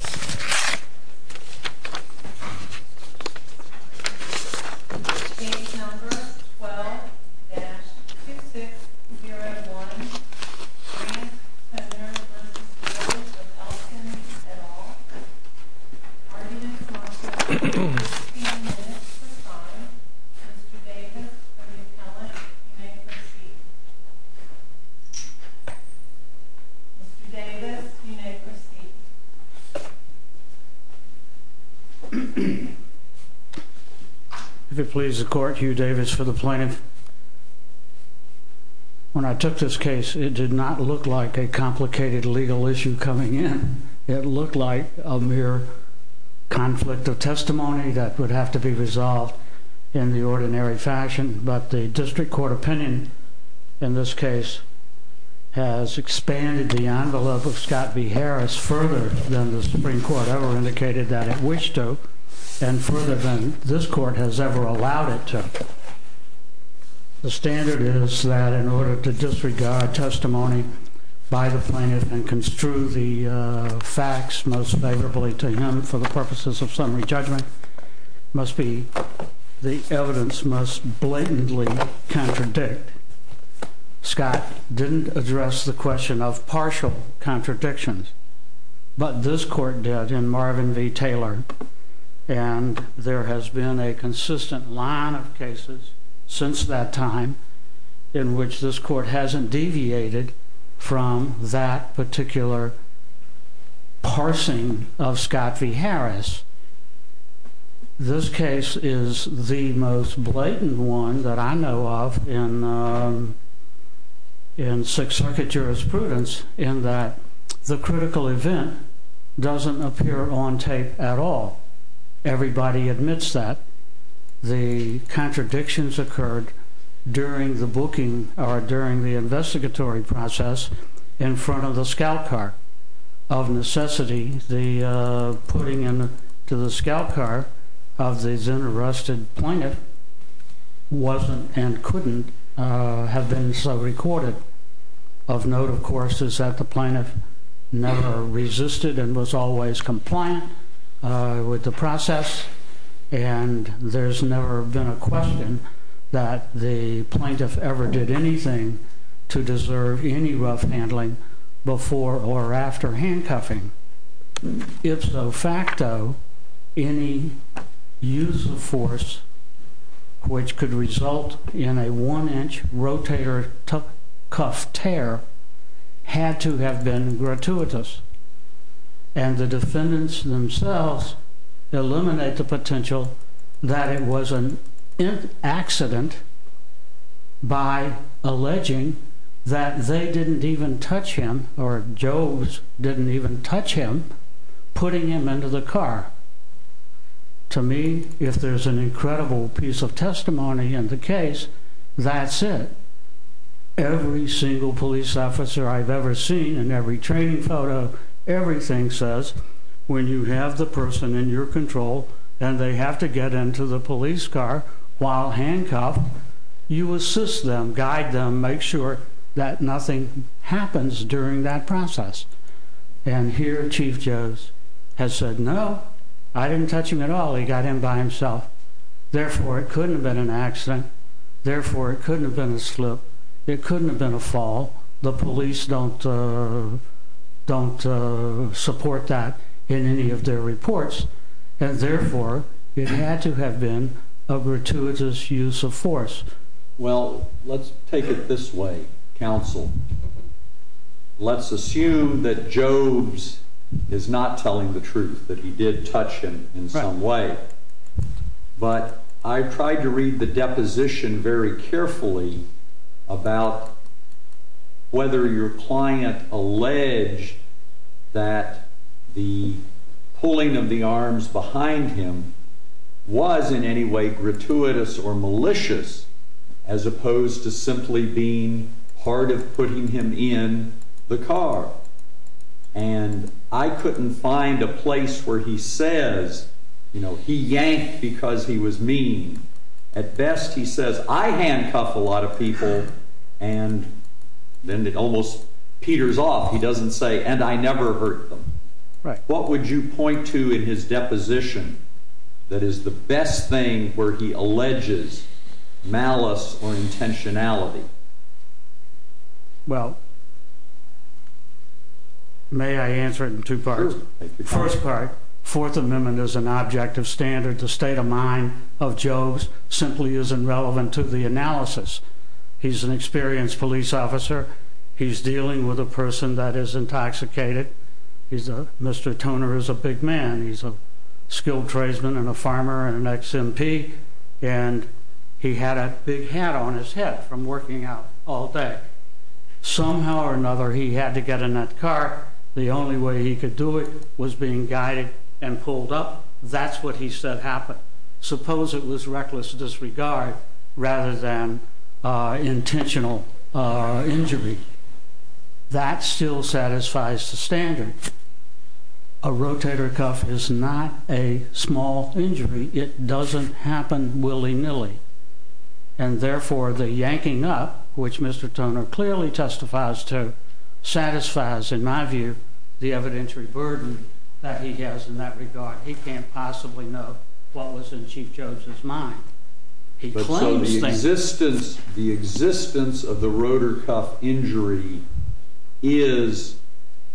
at all. The argument is not held for 15 minutes for the time. Mr. Davis of the appellant, you have the floor. If it pleases the court, Hugh Davis for the plaintiff. When I took this case, it did not look like a complicated legal issue coming in. It looked like a mere conflict of testimony that would have to be resolved in the ordinary fashion, but the district court opinion in this case has expanded the envelope of Scott v. Harris further than the Supreme Court has. The standard is that in order to disregard testimony by the plaintiff and construe the facts most favorably to him for the purposes of summary judgment, the evidence must blatantly contradict. Scott didn't address the question of partial contradictions, but this court did in Marvin v. Taylor, and there has been a consistent line of cases since that time in which this court hasn't deviated from that particular parsing of Scott v. Harris. This case is the most blatant one that I know of in Sixth Circuit jurisprudence in that the critical event doesn't appear on tape at all. Everybody admits that the contradictions occurred during the booking or during the investigatory process in front of the scout car. Of necessity, the putting in to the scout car of these interested plaintiff wasn't and couldn't have been so recorded. Of note, of course, is that the plaintiff never resisted and was always compliant with the process. And there's never been a question that the plaintiff ever did anything to deserve any rough handling before or after handcuffing. If so facto, any use of force which could result in a one-inch rotator cuff tear had to have been gratuitous, and the defendants themselves eliminate the potential that it was an accident by alleging that they didn't even touch him or Joves didn't even touch him. Putting him into the car. To me, if there's an incredible piece of testimony in the case, that's it. Every single police officer I've ever seen and every training photo, everything says when you have the person in your control and they have to get into the police car while handcuffed, you assist them, guide them, make sure that nothing happens during that process. And here Chief Joves has said, no, I didn't touch him at all. He got in by himself. Therefore, it couldn't have been an accident. Therefore, it couldn't have been a slip. It couldn't have been a fall. The police don't support that in any of their reports. And therefore, it had to have been a gratuitous use of force. Well, let's take it this way, counsel. Let's assume that Joves is not telling the truth, that he did touch him in some way. But I tried to read the deposition very carefully about whether your client alleged that the pulling of the arms behind him was in any way gratuitous or malicious as opposed to simply being part of putting him in the car. And I couldn't find a place where he says, you know, he yanked because he was mean. At best, he says, I handcuff a lot of people, and then it almost peters off. He doesn't say, and I never hurt them. What would you point to in his deposition that is the best thing where he alleges malice or intentionality? Well, may I answer it in two parts? First part, Fourth Amendment is an object of standard. The state of mind of Joves simply isn't relevant to the analysis. He's an experienced police officer. He's dealing with a person that is intoxicated. He's a Mr. Toner is a big man. He's a skilled tradesman and a farmer and an ex-MP, and he had a big hat on his head from working out all day. Somehow or another, he had to get in that car. The only way he could do it was being guided and pulled up. That's what he said happened. Suppose it was reckless disregard rather than intentional injury. That still satisfies the standard. A rotator cuff is not a small injury. It doesn't happen willy-nilly, and therefore the yanking up, which Mr. Toner clearly testifies to, satisfies, in my view, the evidentiary burden that he has in that regard. He can't possibly know what was in Chief Joves's mind. The existence of the rotator cuff injury is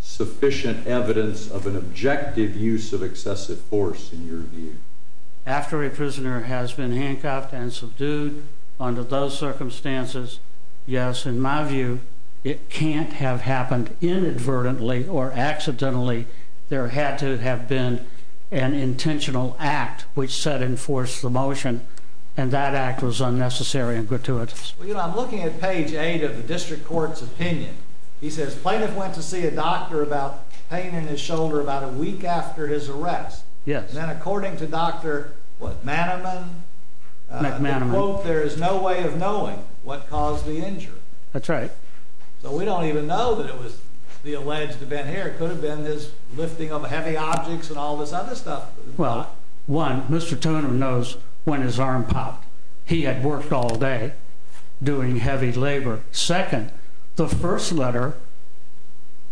sufficient evidence of an objective use of excessive force, in your view. After a prisoner has been handcuffed and subdued under those circumstances, yes, in my view, it can't have happened inadvertently or accidentally. There had to have been an intentional act which set in force the motion, and that act was unnecessary and gratuitous. Well, you know, I'm looking at page 8 of the district court's opinion. He says plaintiff went to see a doctor about pain in his shoulder about a week after his arrest. Yes. And then according to Dr. what, Manaman? McManaman. There is no way of knowing what caused the injury. That's right. So we don't even know that it was the alleged event here. It could have been his lifting of heavy objects and all this other stuff. Well, one, Mr. Toner knows when his arm popped. He had worked all day doing heavy labor. The first letter,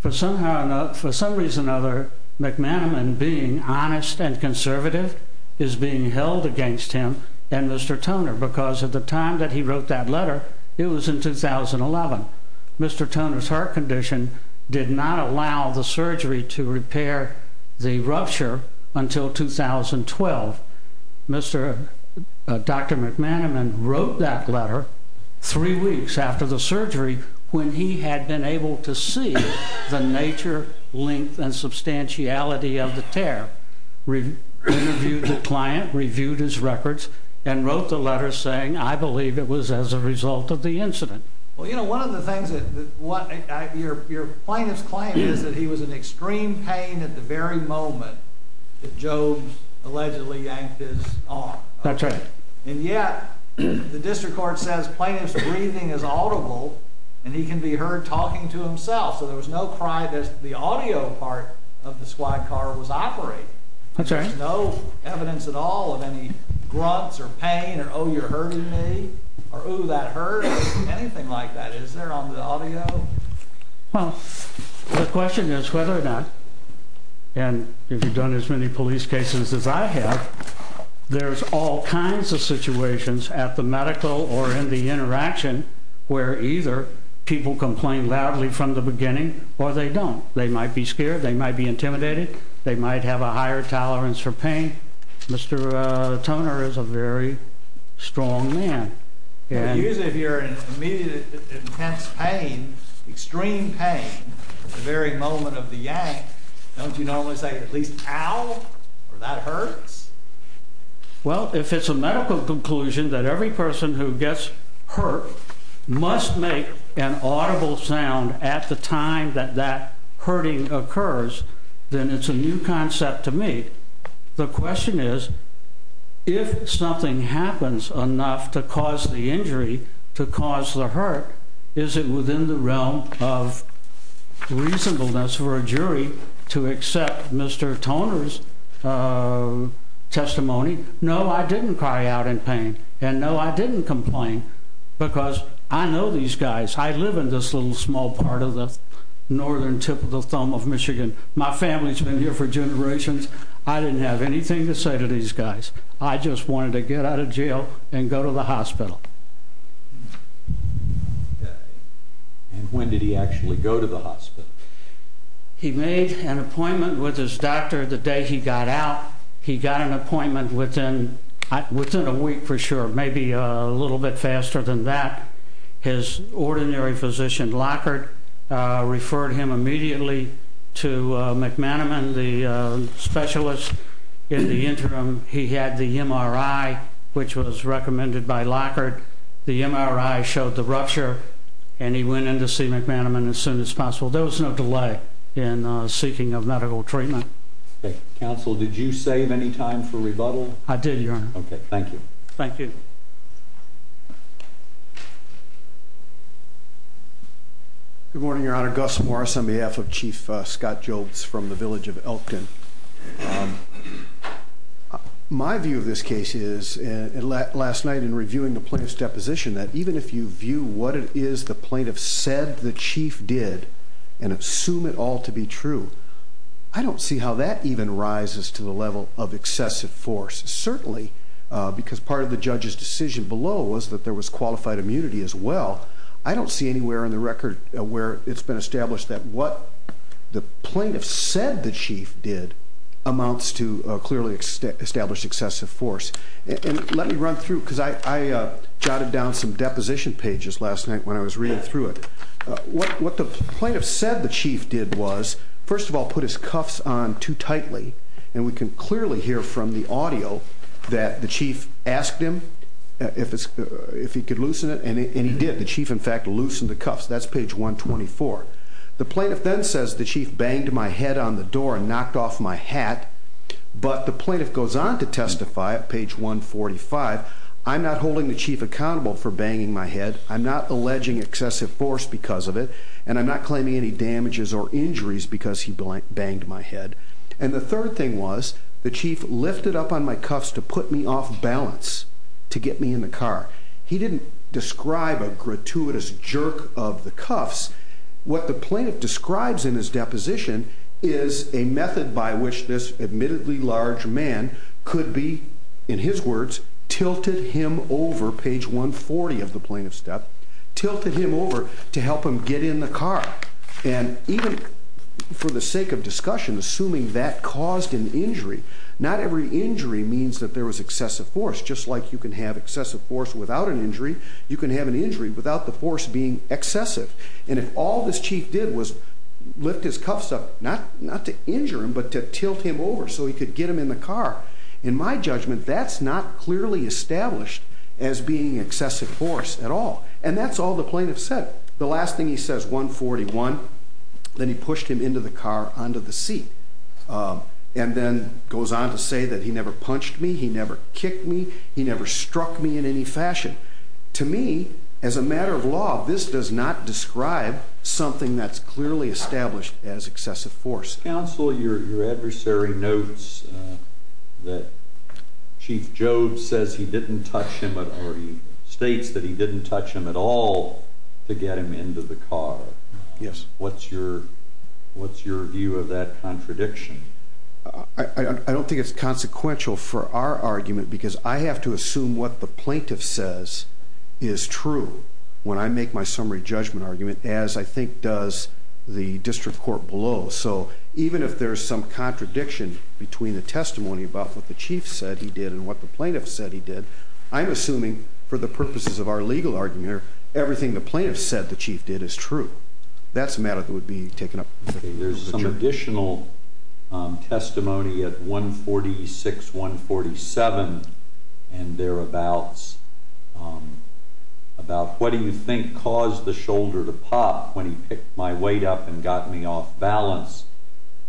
for some reason or another, McManaman being honest and conservative is being held against him and Mr. Toner because at the time that he wrote that letter, it was in 2011. Mr. Toner's heart condition did not allow the surgery to repair the rupture until 2012. Dr. McManaman wrote that letter three weeks after the surgery when he had been able to see the nature, length, and substantiality of the tear. Interviewed the client, reviewed his records, and wrote the letter saying, I believe it was as a result of the incident. Well, you know, one of the things that your plaintiff's claim is that he was in extreme pain at the very moment that Joe allegedly yanked his arm. That's right. And yet the district court says plaintiff's breathing is audible and he can be heard talking to himself. So there was no cry that the audio part of the squad car was operating. That's right. There's no evidence at all of any grunts or pain or oh, you're hurting me or ooh, that hurt or anything like that. Is there on the audio? Well, the question is whether or not, and if you've done as many police cases as I have, there's all kinds of situations at the medical or in the interaction where either people complain loudly from the beginning or they don't. They might be scared. They might be intimidated. They might have a higher tolerance for pain. Mr. Toner is a very strong man. Usually if you're in immediate intense pain, extreme pain at the very moment of the yank, don't you normally say at least ow, or that hurts? Well, if it's a medical conclusion that every person who gets hurt must make an audible sound at the time that that hurting occurs, then it's a new concept to me. The question is if something happens enough to cause the injury to cause the hurt, is it within the realm of reasonableness for a jury to accept Mr. Toner's testimony? No, I didn't cry out in pain. And no, I didn't complain because I know these guys. I live in this little small part of the northern tip of the thumb of Michigan. My family's been here for generations. I didn't have anything to say to these guys. I just wanted to get out of jail and go to the hospital. And when did he actually go to the hospital? He made an appointment with his doctor the day he got out. He got an appointment within a week for sure, maybe a little bit faster than that. His ordinary physician, Lockhart, referred him immediately to McManaman, the specialist. In the interim, he had the MRI, which was recommended by Lockhart. The MRI showed the rupture, and he went in to see McManaman as soon as possible. There was no delay in seeking a medical treatment. Counsel, did you save any time for rebuttal? I did, Your Honor. Okay, thank you. Thank you. Good morning, Your Honor. Gus Morris on behalf of Chief Scott Jobes from the village of Elkton. My view of this case is, last night in reviewing the plaintiff's deposition, that even if you view what it is the plaintiff said the chief did and assume it all to be true, I don't see how that even rises to the level of excessive force. Certainly, because part of the judge's decision below was that there was qualified immunity as well, I don't see anywhere in the record where it's been established that what the plaintiff said the chief did amounts to clearly established excessive force. And let me run through, because I jotted down some deposition pages last night when I was reading through it. What the plaintiff said the chief did was, first of all, put his cuffs on too tightly, and we can clearly hear from the audio that the chief asked him if he could loosen it, and he did. The chief, in fact, loosened the cuffs. That's page 124. The plaintiff then says the chief banged my head on the door and knocked off my hat, but the plaintiff goes on to testify at page 145, I'm not holding the chief accountable for banging my head, I'm not alleging excessive force because of it, and I'm not claiming any damages or injuries because he banged my head. And the third thing was the chief lifted up on my cuffs to put me off balance, to get me in the car. He didn't describe a gratuitous jerk of the cuffs. What the plaintiff describes in his deposition is a method by which this admittedly large man could be, in his words, tilted him over, page 140 of the plaintiff's step, tilted him over to help him get in the car. And even for the sake of discussion, assuming that caused an injury, not every injury means that there was excessive force. Just like you can have excessive force without an injury, you can have an injury without the force being excessive. And if all this chief did was lift his cuffs up, not to injure him, but to tilt him over so he could get him in the car, in my judgment, that's not clearly established as being excessive force at all. And that's all the plaintiff said. The last thing he says, 141, then he pushed him into the car, onto the seat, and then goes on to say that he never punched me, he never kicked me, he never struck me in any fashion. To me, as a matter of law, this does not describe something that's clearly established as excessive force. Counsel, your adversary notes that Chief Jobes says he didn't touch him or he states that he didn't touch him at all to get him into the car. Yes. What's your view of that contradiction? I don't think it's consequential for our argument because I have to assume what the plaintiff says is true when I make my summary judgment argument, as I think does the district court below. So even if there's some contradiction between the testimony about what the chief said he did and what the plaintiff said he did, I'm assuming for the purposes of our legal argument, everything the plaintiff said the chief did is true. That's a matter that would be taken up with the judge. There's some additional testimony at 146, 147 and thereabouts about what do you think caused the shoulder to pop when he picked my weight up and got me off balance.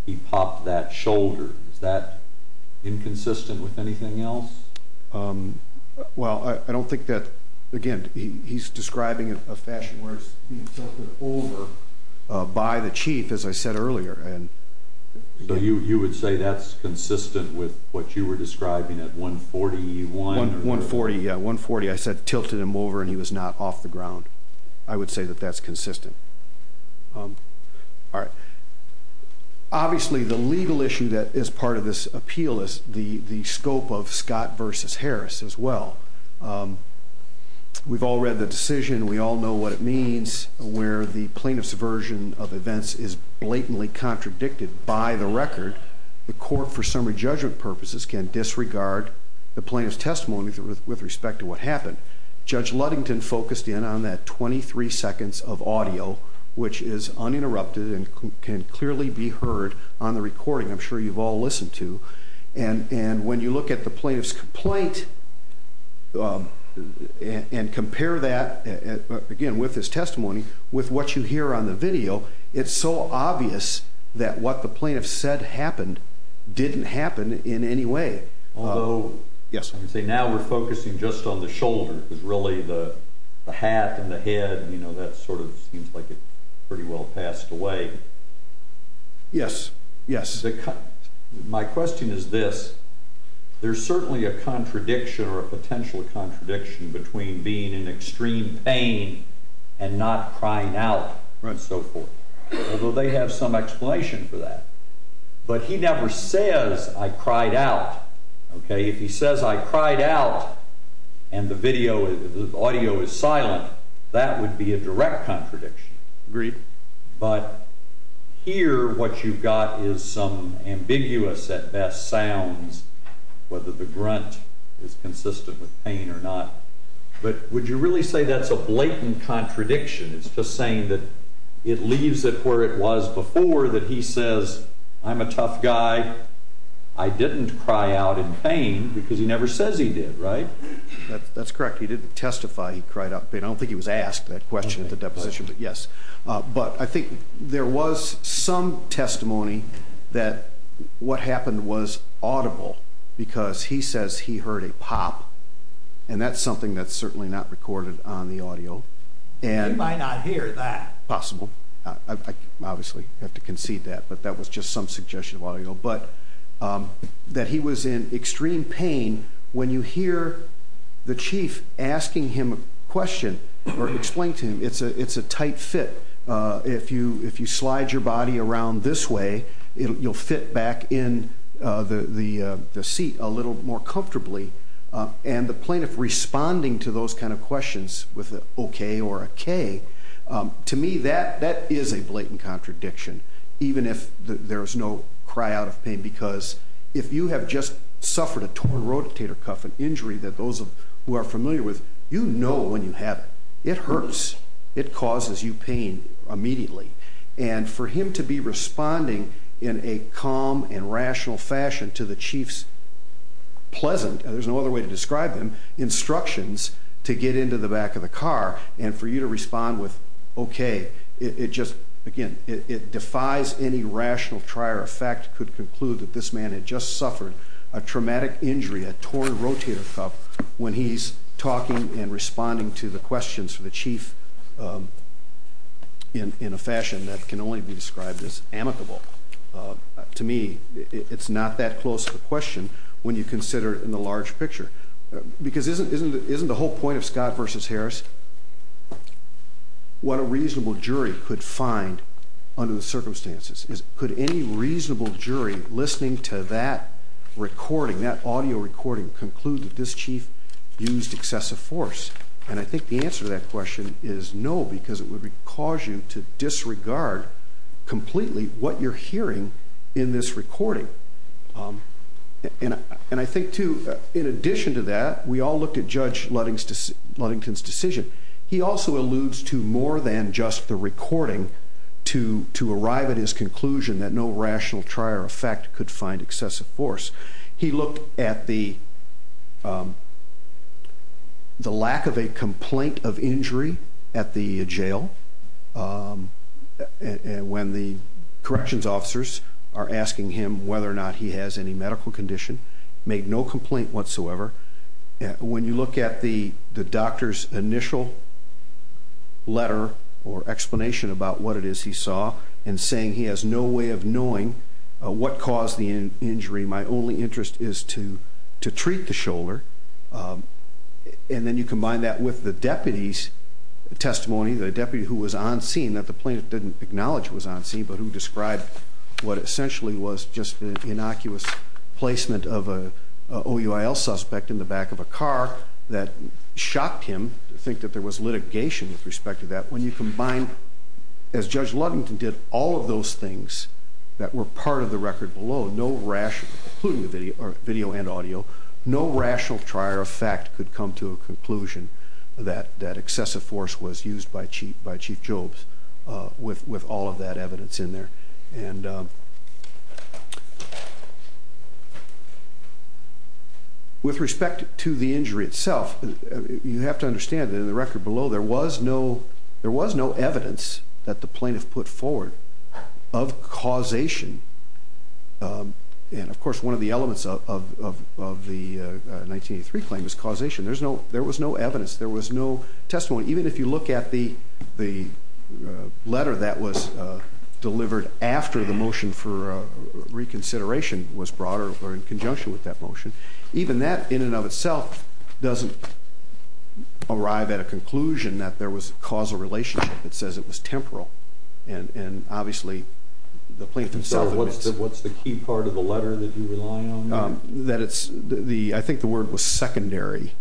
He popped that shoulder. Is that inconsistent with anything else? Well, I don't think that, again, he's describing it in a fashion where it's being tilted over by the chief, as I said earlier. So you would say that's consistent with what you were describing at 141? 140, yeah, 140. I said tilted him over and he was not off the ground. I would say that that's consistent. All right. Obviously the legal issue that is part of this appeal is the scope of Scott v. Harris as well. We've all read the decision. We all know what it means where the plaintiff's version of events is blatantly contradicted by the record. The court, for summary judgment purposes, can disregard the plaintiff's testimony with respect to what happened. Judge Ludington focused in on that 23 seconds of audio, which is uninterrupted and can clearly be heard on the recording. I'm sure you've all listened to. And when you look at the plaintiff's complaint and compare that, again, with his testimony, with what you hear on the video, it's so obvious that what the plaintiff said happened didn't happen in any way. Although, I would say now we're focusing just on the shoulder, because really the hat and the head, you know, that sort of seems like it pretty well passed away. Yes, yes. My question is this. There's certainly a contradiction or a potential contradiction between being in extreme pain and not crying out and so forth. Although they have some explanation for that. But he never says, I cried out. If he says, I cried out, and the audio is silent, that would be a direct contradiction. Agreed. But here what you've got is some ambiguous, at best, sounds, whether the grunt is consistent with pain or not. But would you really say that's a blatant contradiction? It's just saying that it leaves it where it was before that he says, I'm a tough guy. I didn't cry out in pain, because he never says he did, right? That's correct. He didn't testify he cried out in pain. I don't think he was asked that question at the deposition, but yes. But I think there was some testimony that what happened was audible, because he says he heard a pop. And that's something that's certainly not recorded on the audio. He might not hear that. Possible. I obviously have to concede that. But that was just some suggestion of audio. But that he was in extreme pain, when you hear the chief asking him a question or explain to him, it's a tight fit. If you slide your body around this way, you'll fit back in the seat a little more comfortably. And the plaintiff responding to those kind of questions with an OK or a K, to me that is a blatant contradiction, even if there is no cry out of pain. Because if you have just suffered a torn rotator cuff, an injury that those who are familiar with, you know when you have it. It hurts. It causes you pain immediately. And for him to be responding in a calm and rational fashion to the chief's pleasant, there's no other way to describe him, instructions to get into the back of the car, and for you to respond with OK, it just, again, it defies any rational try or effect to conclude that this man had just suffered a traumatic injury, a torn rotator cuff, when he's talking and responding to the questions for the chief in a fashion that can only be described as amicable. To me, it's not that close of a question when you consider it in the large picture. Because isn't the whole point of Scott v. Harris what a reasonable jury could find under the circumstances? Could any reasonable jury listening to that recording, that audio recording, conclude that this chief used excessive force? And I think the answer to that question is no, because it would cause you to disregard completely what you're hearing in this recording. And I think, too, in addition to that, we all looked at Judge Ludington's decision. He also alludes to more than just the recording to arrive at his conclusion that no rational try or effect could find excessive force. He looked at the lack of a complaint of injury at the jail when the corrections officers are asking him whether or not he has any medical condition, made no complaint whatsoever. When you look at the doctor's initial letter or explanation about what it is he saw and saying he has no way of knowing what caused the injury, my only interest is to treat the shoulder, and then you combine that with the deputy's testimony, the deputy who was on scene that the plaintiff didn't acknowledge was on scene, but who described what essentially was just an innocuous placement of an OUIL suspect in the back of a car that shocked him to think that there was litigation with respect to that. When you combine, as Judge Ludington did, all of those things that were part of the record below, including the video and audio, no rational try or effect could come to a conclusion that excessive force was used by Chief Jobes with all of that evidence in there. With respect to the injury itself, you have to understand that in the record below there was no evidence that the plaintiff put forward of causation. Of course, one of the elements of the 1983 claim is causation. There was no evidence. There was no testimony. Even if you look at the letter that was delivered after the motion for reconsideration was brought or in conjunction with that motion, even that in and of itself doesn't arrive at a conclusion that there was causal relationship. It says it was temporal. Obviously, the plaintiff himself— What's the key part of the letter that you rely on? I think the word was secondary.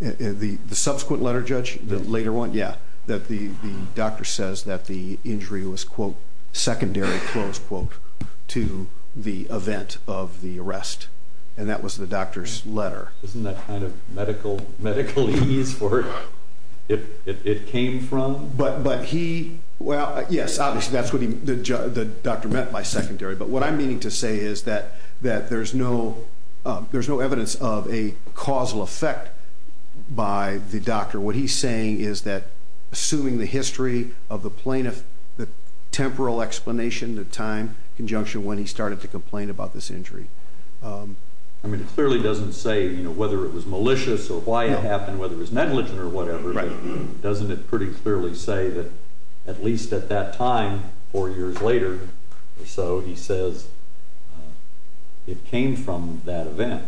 The subsequent letter, Judge, the later one, yeah, that the doctor says that the injury was, quote, secondary, close quote, to the event of the arrest, and that was the doctor's letter. Isn't that kind of medical ease where it came from? But he—well, yes, obviously that's what the doctor meant by secondary. But what I'm meaning to say is that there's no evidence of a causal effect by the doctor. What he's saying is that assuming the history of the plaintiff, the temporal explanation, the time conjunction when he started to complain about this injury. I mean, it clearly doesn't say whether it was malicious or why it happened, whether it was negligent or whatever. Right. Doesn't it pretty clearly say that at least at that time, four years later or so, he says it came from that event?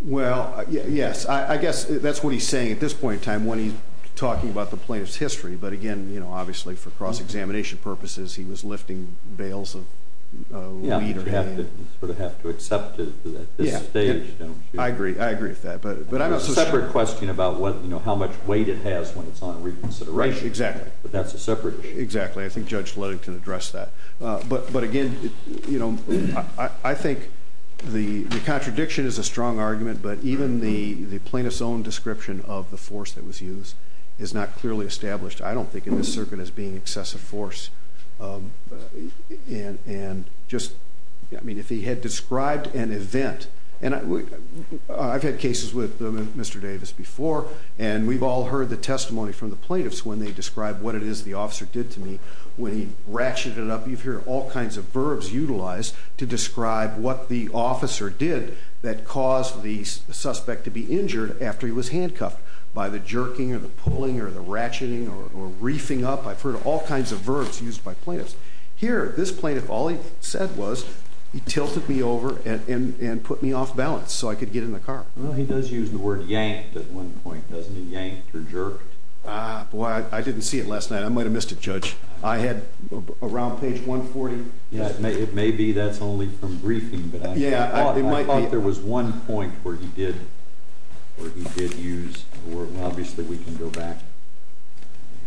Well, yes. I guess that's what he's saying at this point in time when he's talking about the plaintiff's history. But, again, you know, obviously for cross-examination purposes, he was lifting bales of wheat or hay. You sort of have to accept it at this stage, don't you? I agree. I agree with that. It's a separate question about how much weight it has when it's on reconsideration. Exactly. But that's a separate issue. Exactly. I think Judge Ludington addressed that. But, again, you know, I think the contradiction is a strong argument, but even the plaintiff's own description of the force that was used is not clearly established, I don't think, in this circuit, as being excessive force. And just, I mean, if he had described an event, and I've had cases with Mr. Davis before, and we've all heard the testimony from the plaintiffs when they describe what it is the officer did to me. When he ratcheted it up, you hear all kinds of verbs utilized to describe what the officer did that caused the suspect to be injured after he was handcuffed by the jerking or the pulling or the ratcheting or reefing up. I've heard all kinds of verbs used by plaintiffs. Here, this plaintiff, all he said was he tilted me over and put me off balance so I could get in the car. Well, he does use the word yanked at one point, doesn't he? Yanked or jerked. Ah, boy, I didn't see it last night. I might have missed it, Judge. I had around page 140. It may be that's only from reefing, but I thought there was one point where he did use, or obviously we can go back.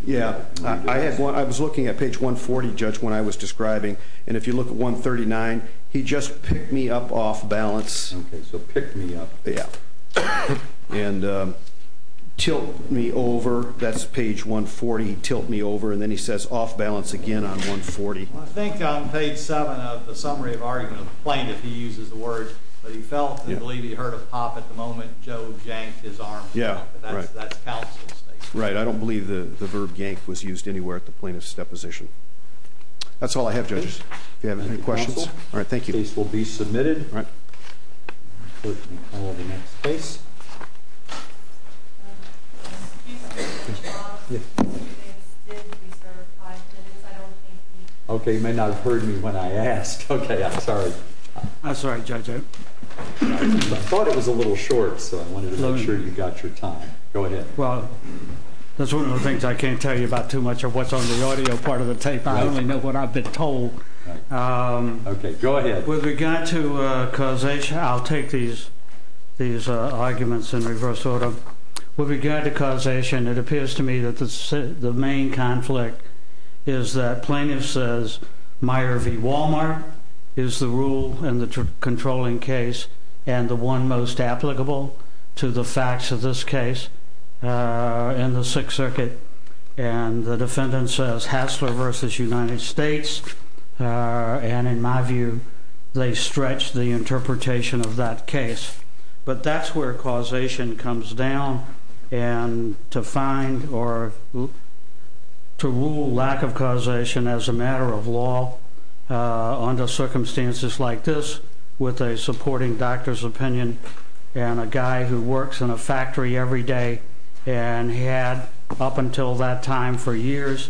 Yeah, I was looking at page 140, Judge, when I was describing, and if you look at 139, he just picked me up off balance. Okay, so picked me up. Yeah, and tilt me over. That's page 140, tilt me over. And then he says off balance again on 140. I think on page 7 of the summary of argument of the plaintiff, he uses the word that he felt and believed he heard a pop at the moment Joe yanked his arm. Yeah, right. That's counsel statement. Right, I don't believe the verb yanked was used anywhere at the plaintiff's deposition. That's all I have, Judges, if you have any questions. All right, thank you. Case will be submitted. All right. Okay, you may not have heard me when I asked. Okay, I'm sorry. I'm sorry, Judge. I thought it was a little short, so I wanted to make sure you got your time. Go ahead. Well, that's one of the things I can't tell you about too much of what's on the audio part of the tape. I only know what I've been told. Okay, go ahead. With regard to causation, I'll take these arguments in reverse order. With regard to causation, it appears to me that the main conflict is that plaintiff says Meyer v. Walmart is the rule in the controlling case and the one most applicable to the facts of this case in the Sixth Circuit. And the defendant says Hassler versus United States. And in my view, they stretch the interpretation of that case. But that's where causation comes down and to find or to rule lack of causation as a matter of law under circumstances like this with a supporting doctor's opinion and a guy who works in a factory every day and had up until that time for years,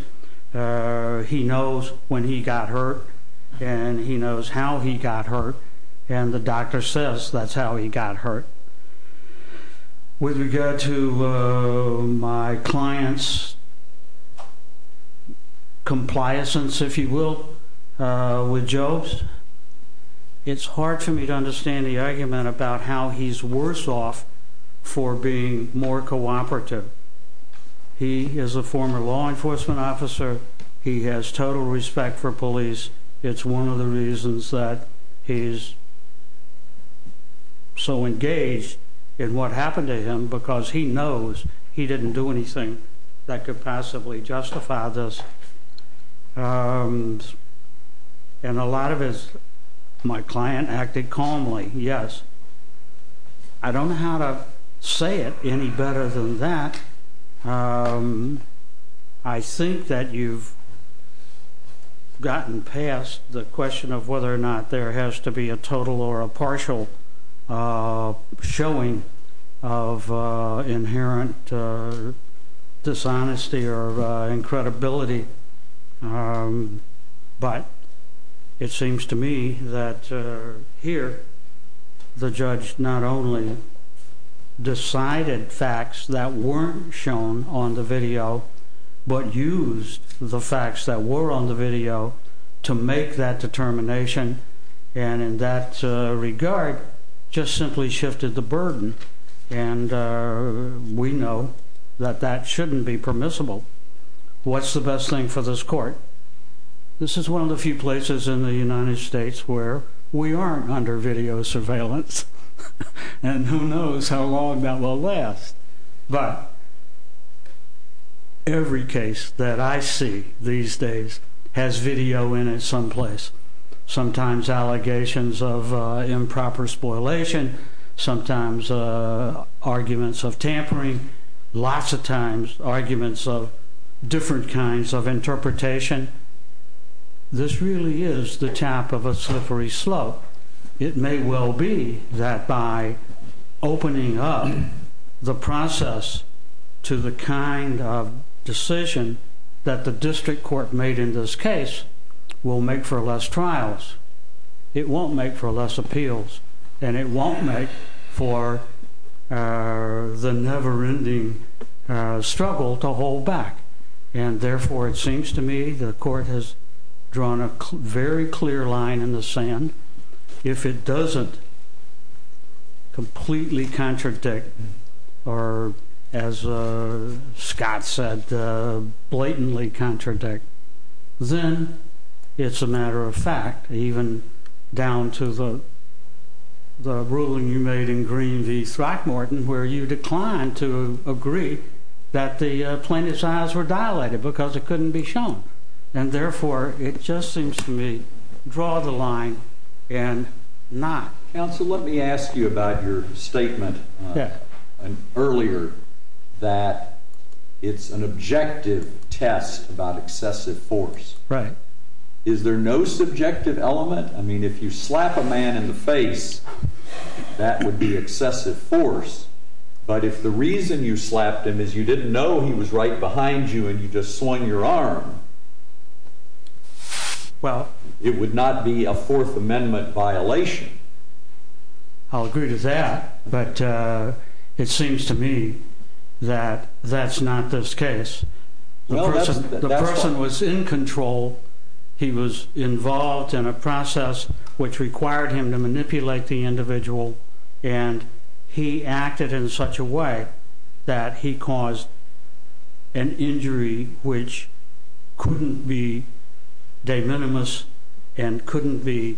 he knows when he got hurt and he knows how he got hurt. And the doctor says that's how he got hurt. With regard to my client's compliance, if you will, with Jobes, it's hard for me to understand the argument about how he's worse off for being more cooperative. He is a former law enforcement officer. He has total respect for police. It's one of the reasons that he's so engaged in what happened to him because he knows he didn't do anything that could passively justify this. And a lot of my client acted calmly, yes. I don't know how to say it any better than that. I think that you've gotten past the question of whether or not there has to be a total or a partial showing of inherent dishonesty or incredibility. But it seems to me that here the judge not only decided facts that weren't shown on the video but used the facts that were on the video to make that determination and in that regard just simply shifted the burden. And we know that that shouldn't be permissible. What's the best thing for this court? This is one of the few places in the United States where we aren't under video surveillance and who knows how long that will last. But every case that I see these days has video in it someplace. Sometimes allegations of improper spoilation. Sometimes arguments of tampering. Lots of times arguments of different kinds of interpretation. This really is the top of a slippery slope. It may well be that by opening up the process to the kind of decision that the district court made in this case will make for less trials. It won't make for less appeals. And it won't make for the never-ending struggle to hold back. And therefore it seems to me the court has drawn a very clear line in the sand. If it doesn't completely contradict or, as Scott said, blatantly contradict, then it's a matter of fact. Even down to the ruling you made in Green v. Throckmorton where you declined to agree that the plaintiffs' aisles were dilated because it couldn't be shown. And therefore it just seems to me draw the line and not. Counsel, let me ask you about your statement earlier that it's an objective test about excessive force. Is there no subjective element? I mean, if you slap a man in the face, that would be excessive force. But if the reason you slapped him is you didn't know he was right behind you and you just swung your arm, it would not be a Fourth Amendment violation. I'll agree to that. But it seems to me that that's not this case. The person was in control. He was involved in a process which required him to manipulate the individual. And he acted in such a way that he caused an injury which couldn't be de minimis and couldn't be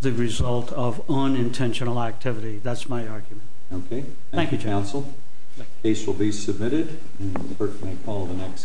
the result of unintentional activity. That's my argument. Okay. Thank you, counsel. The case will be submitted. Berkley, call the next case.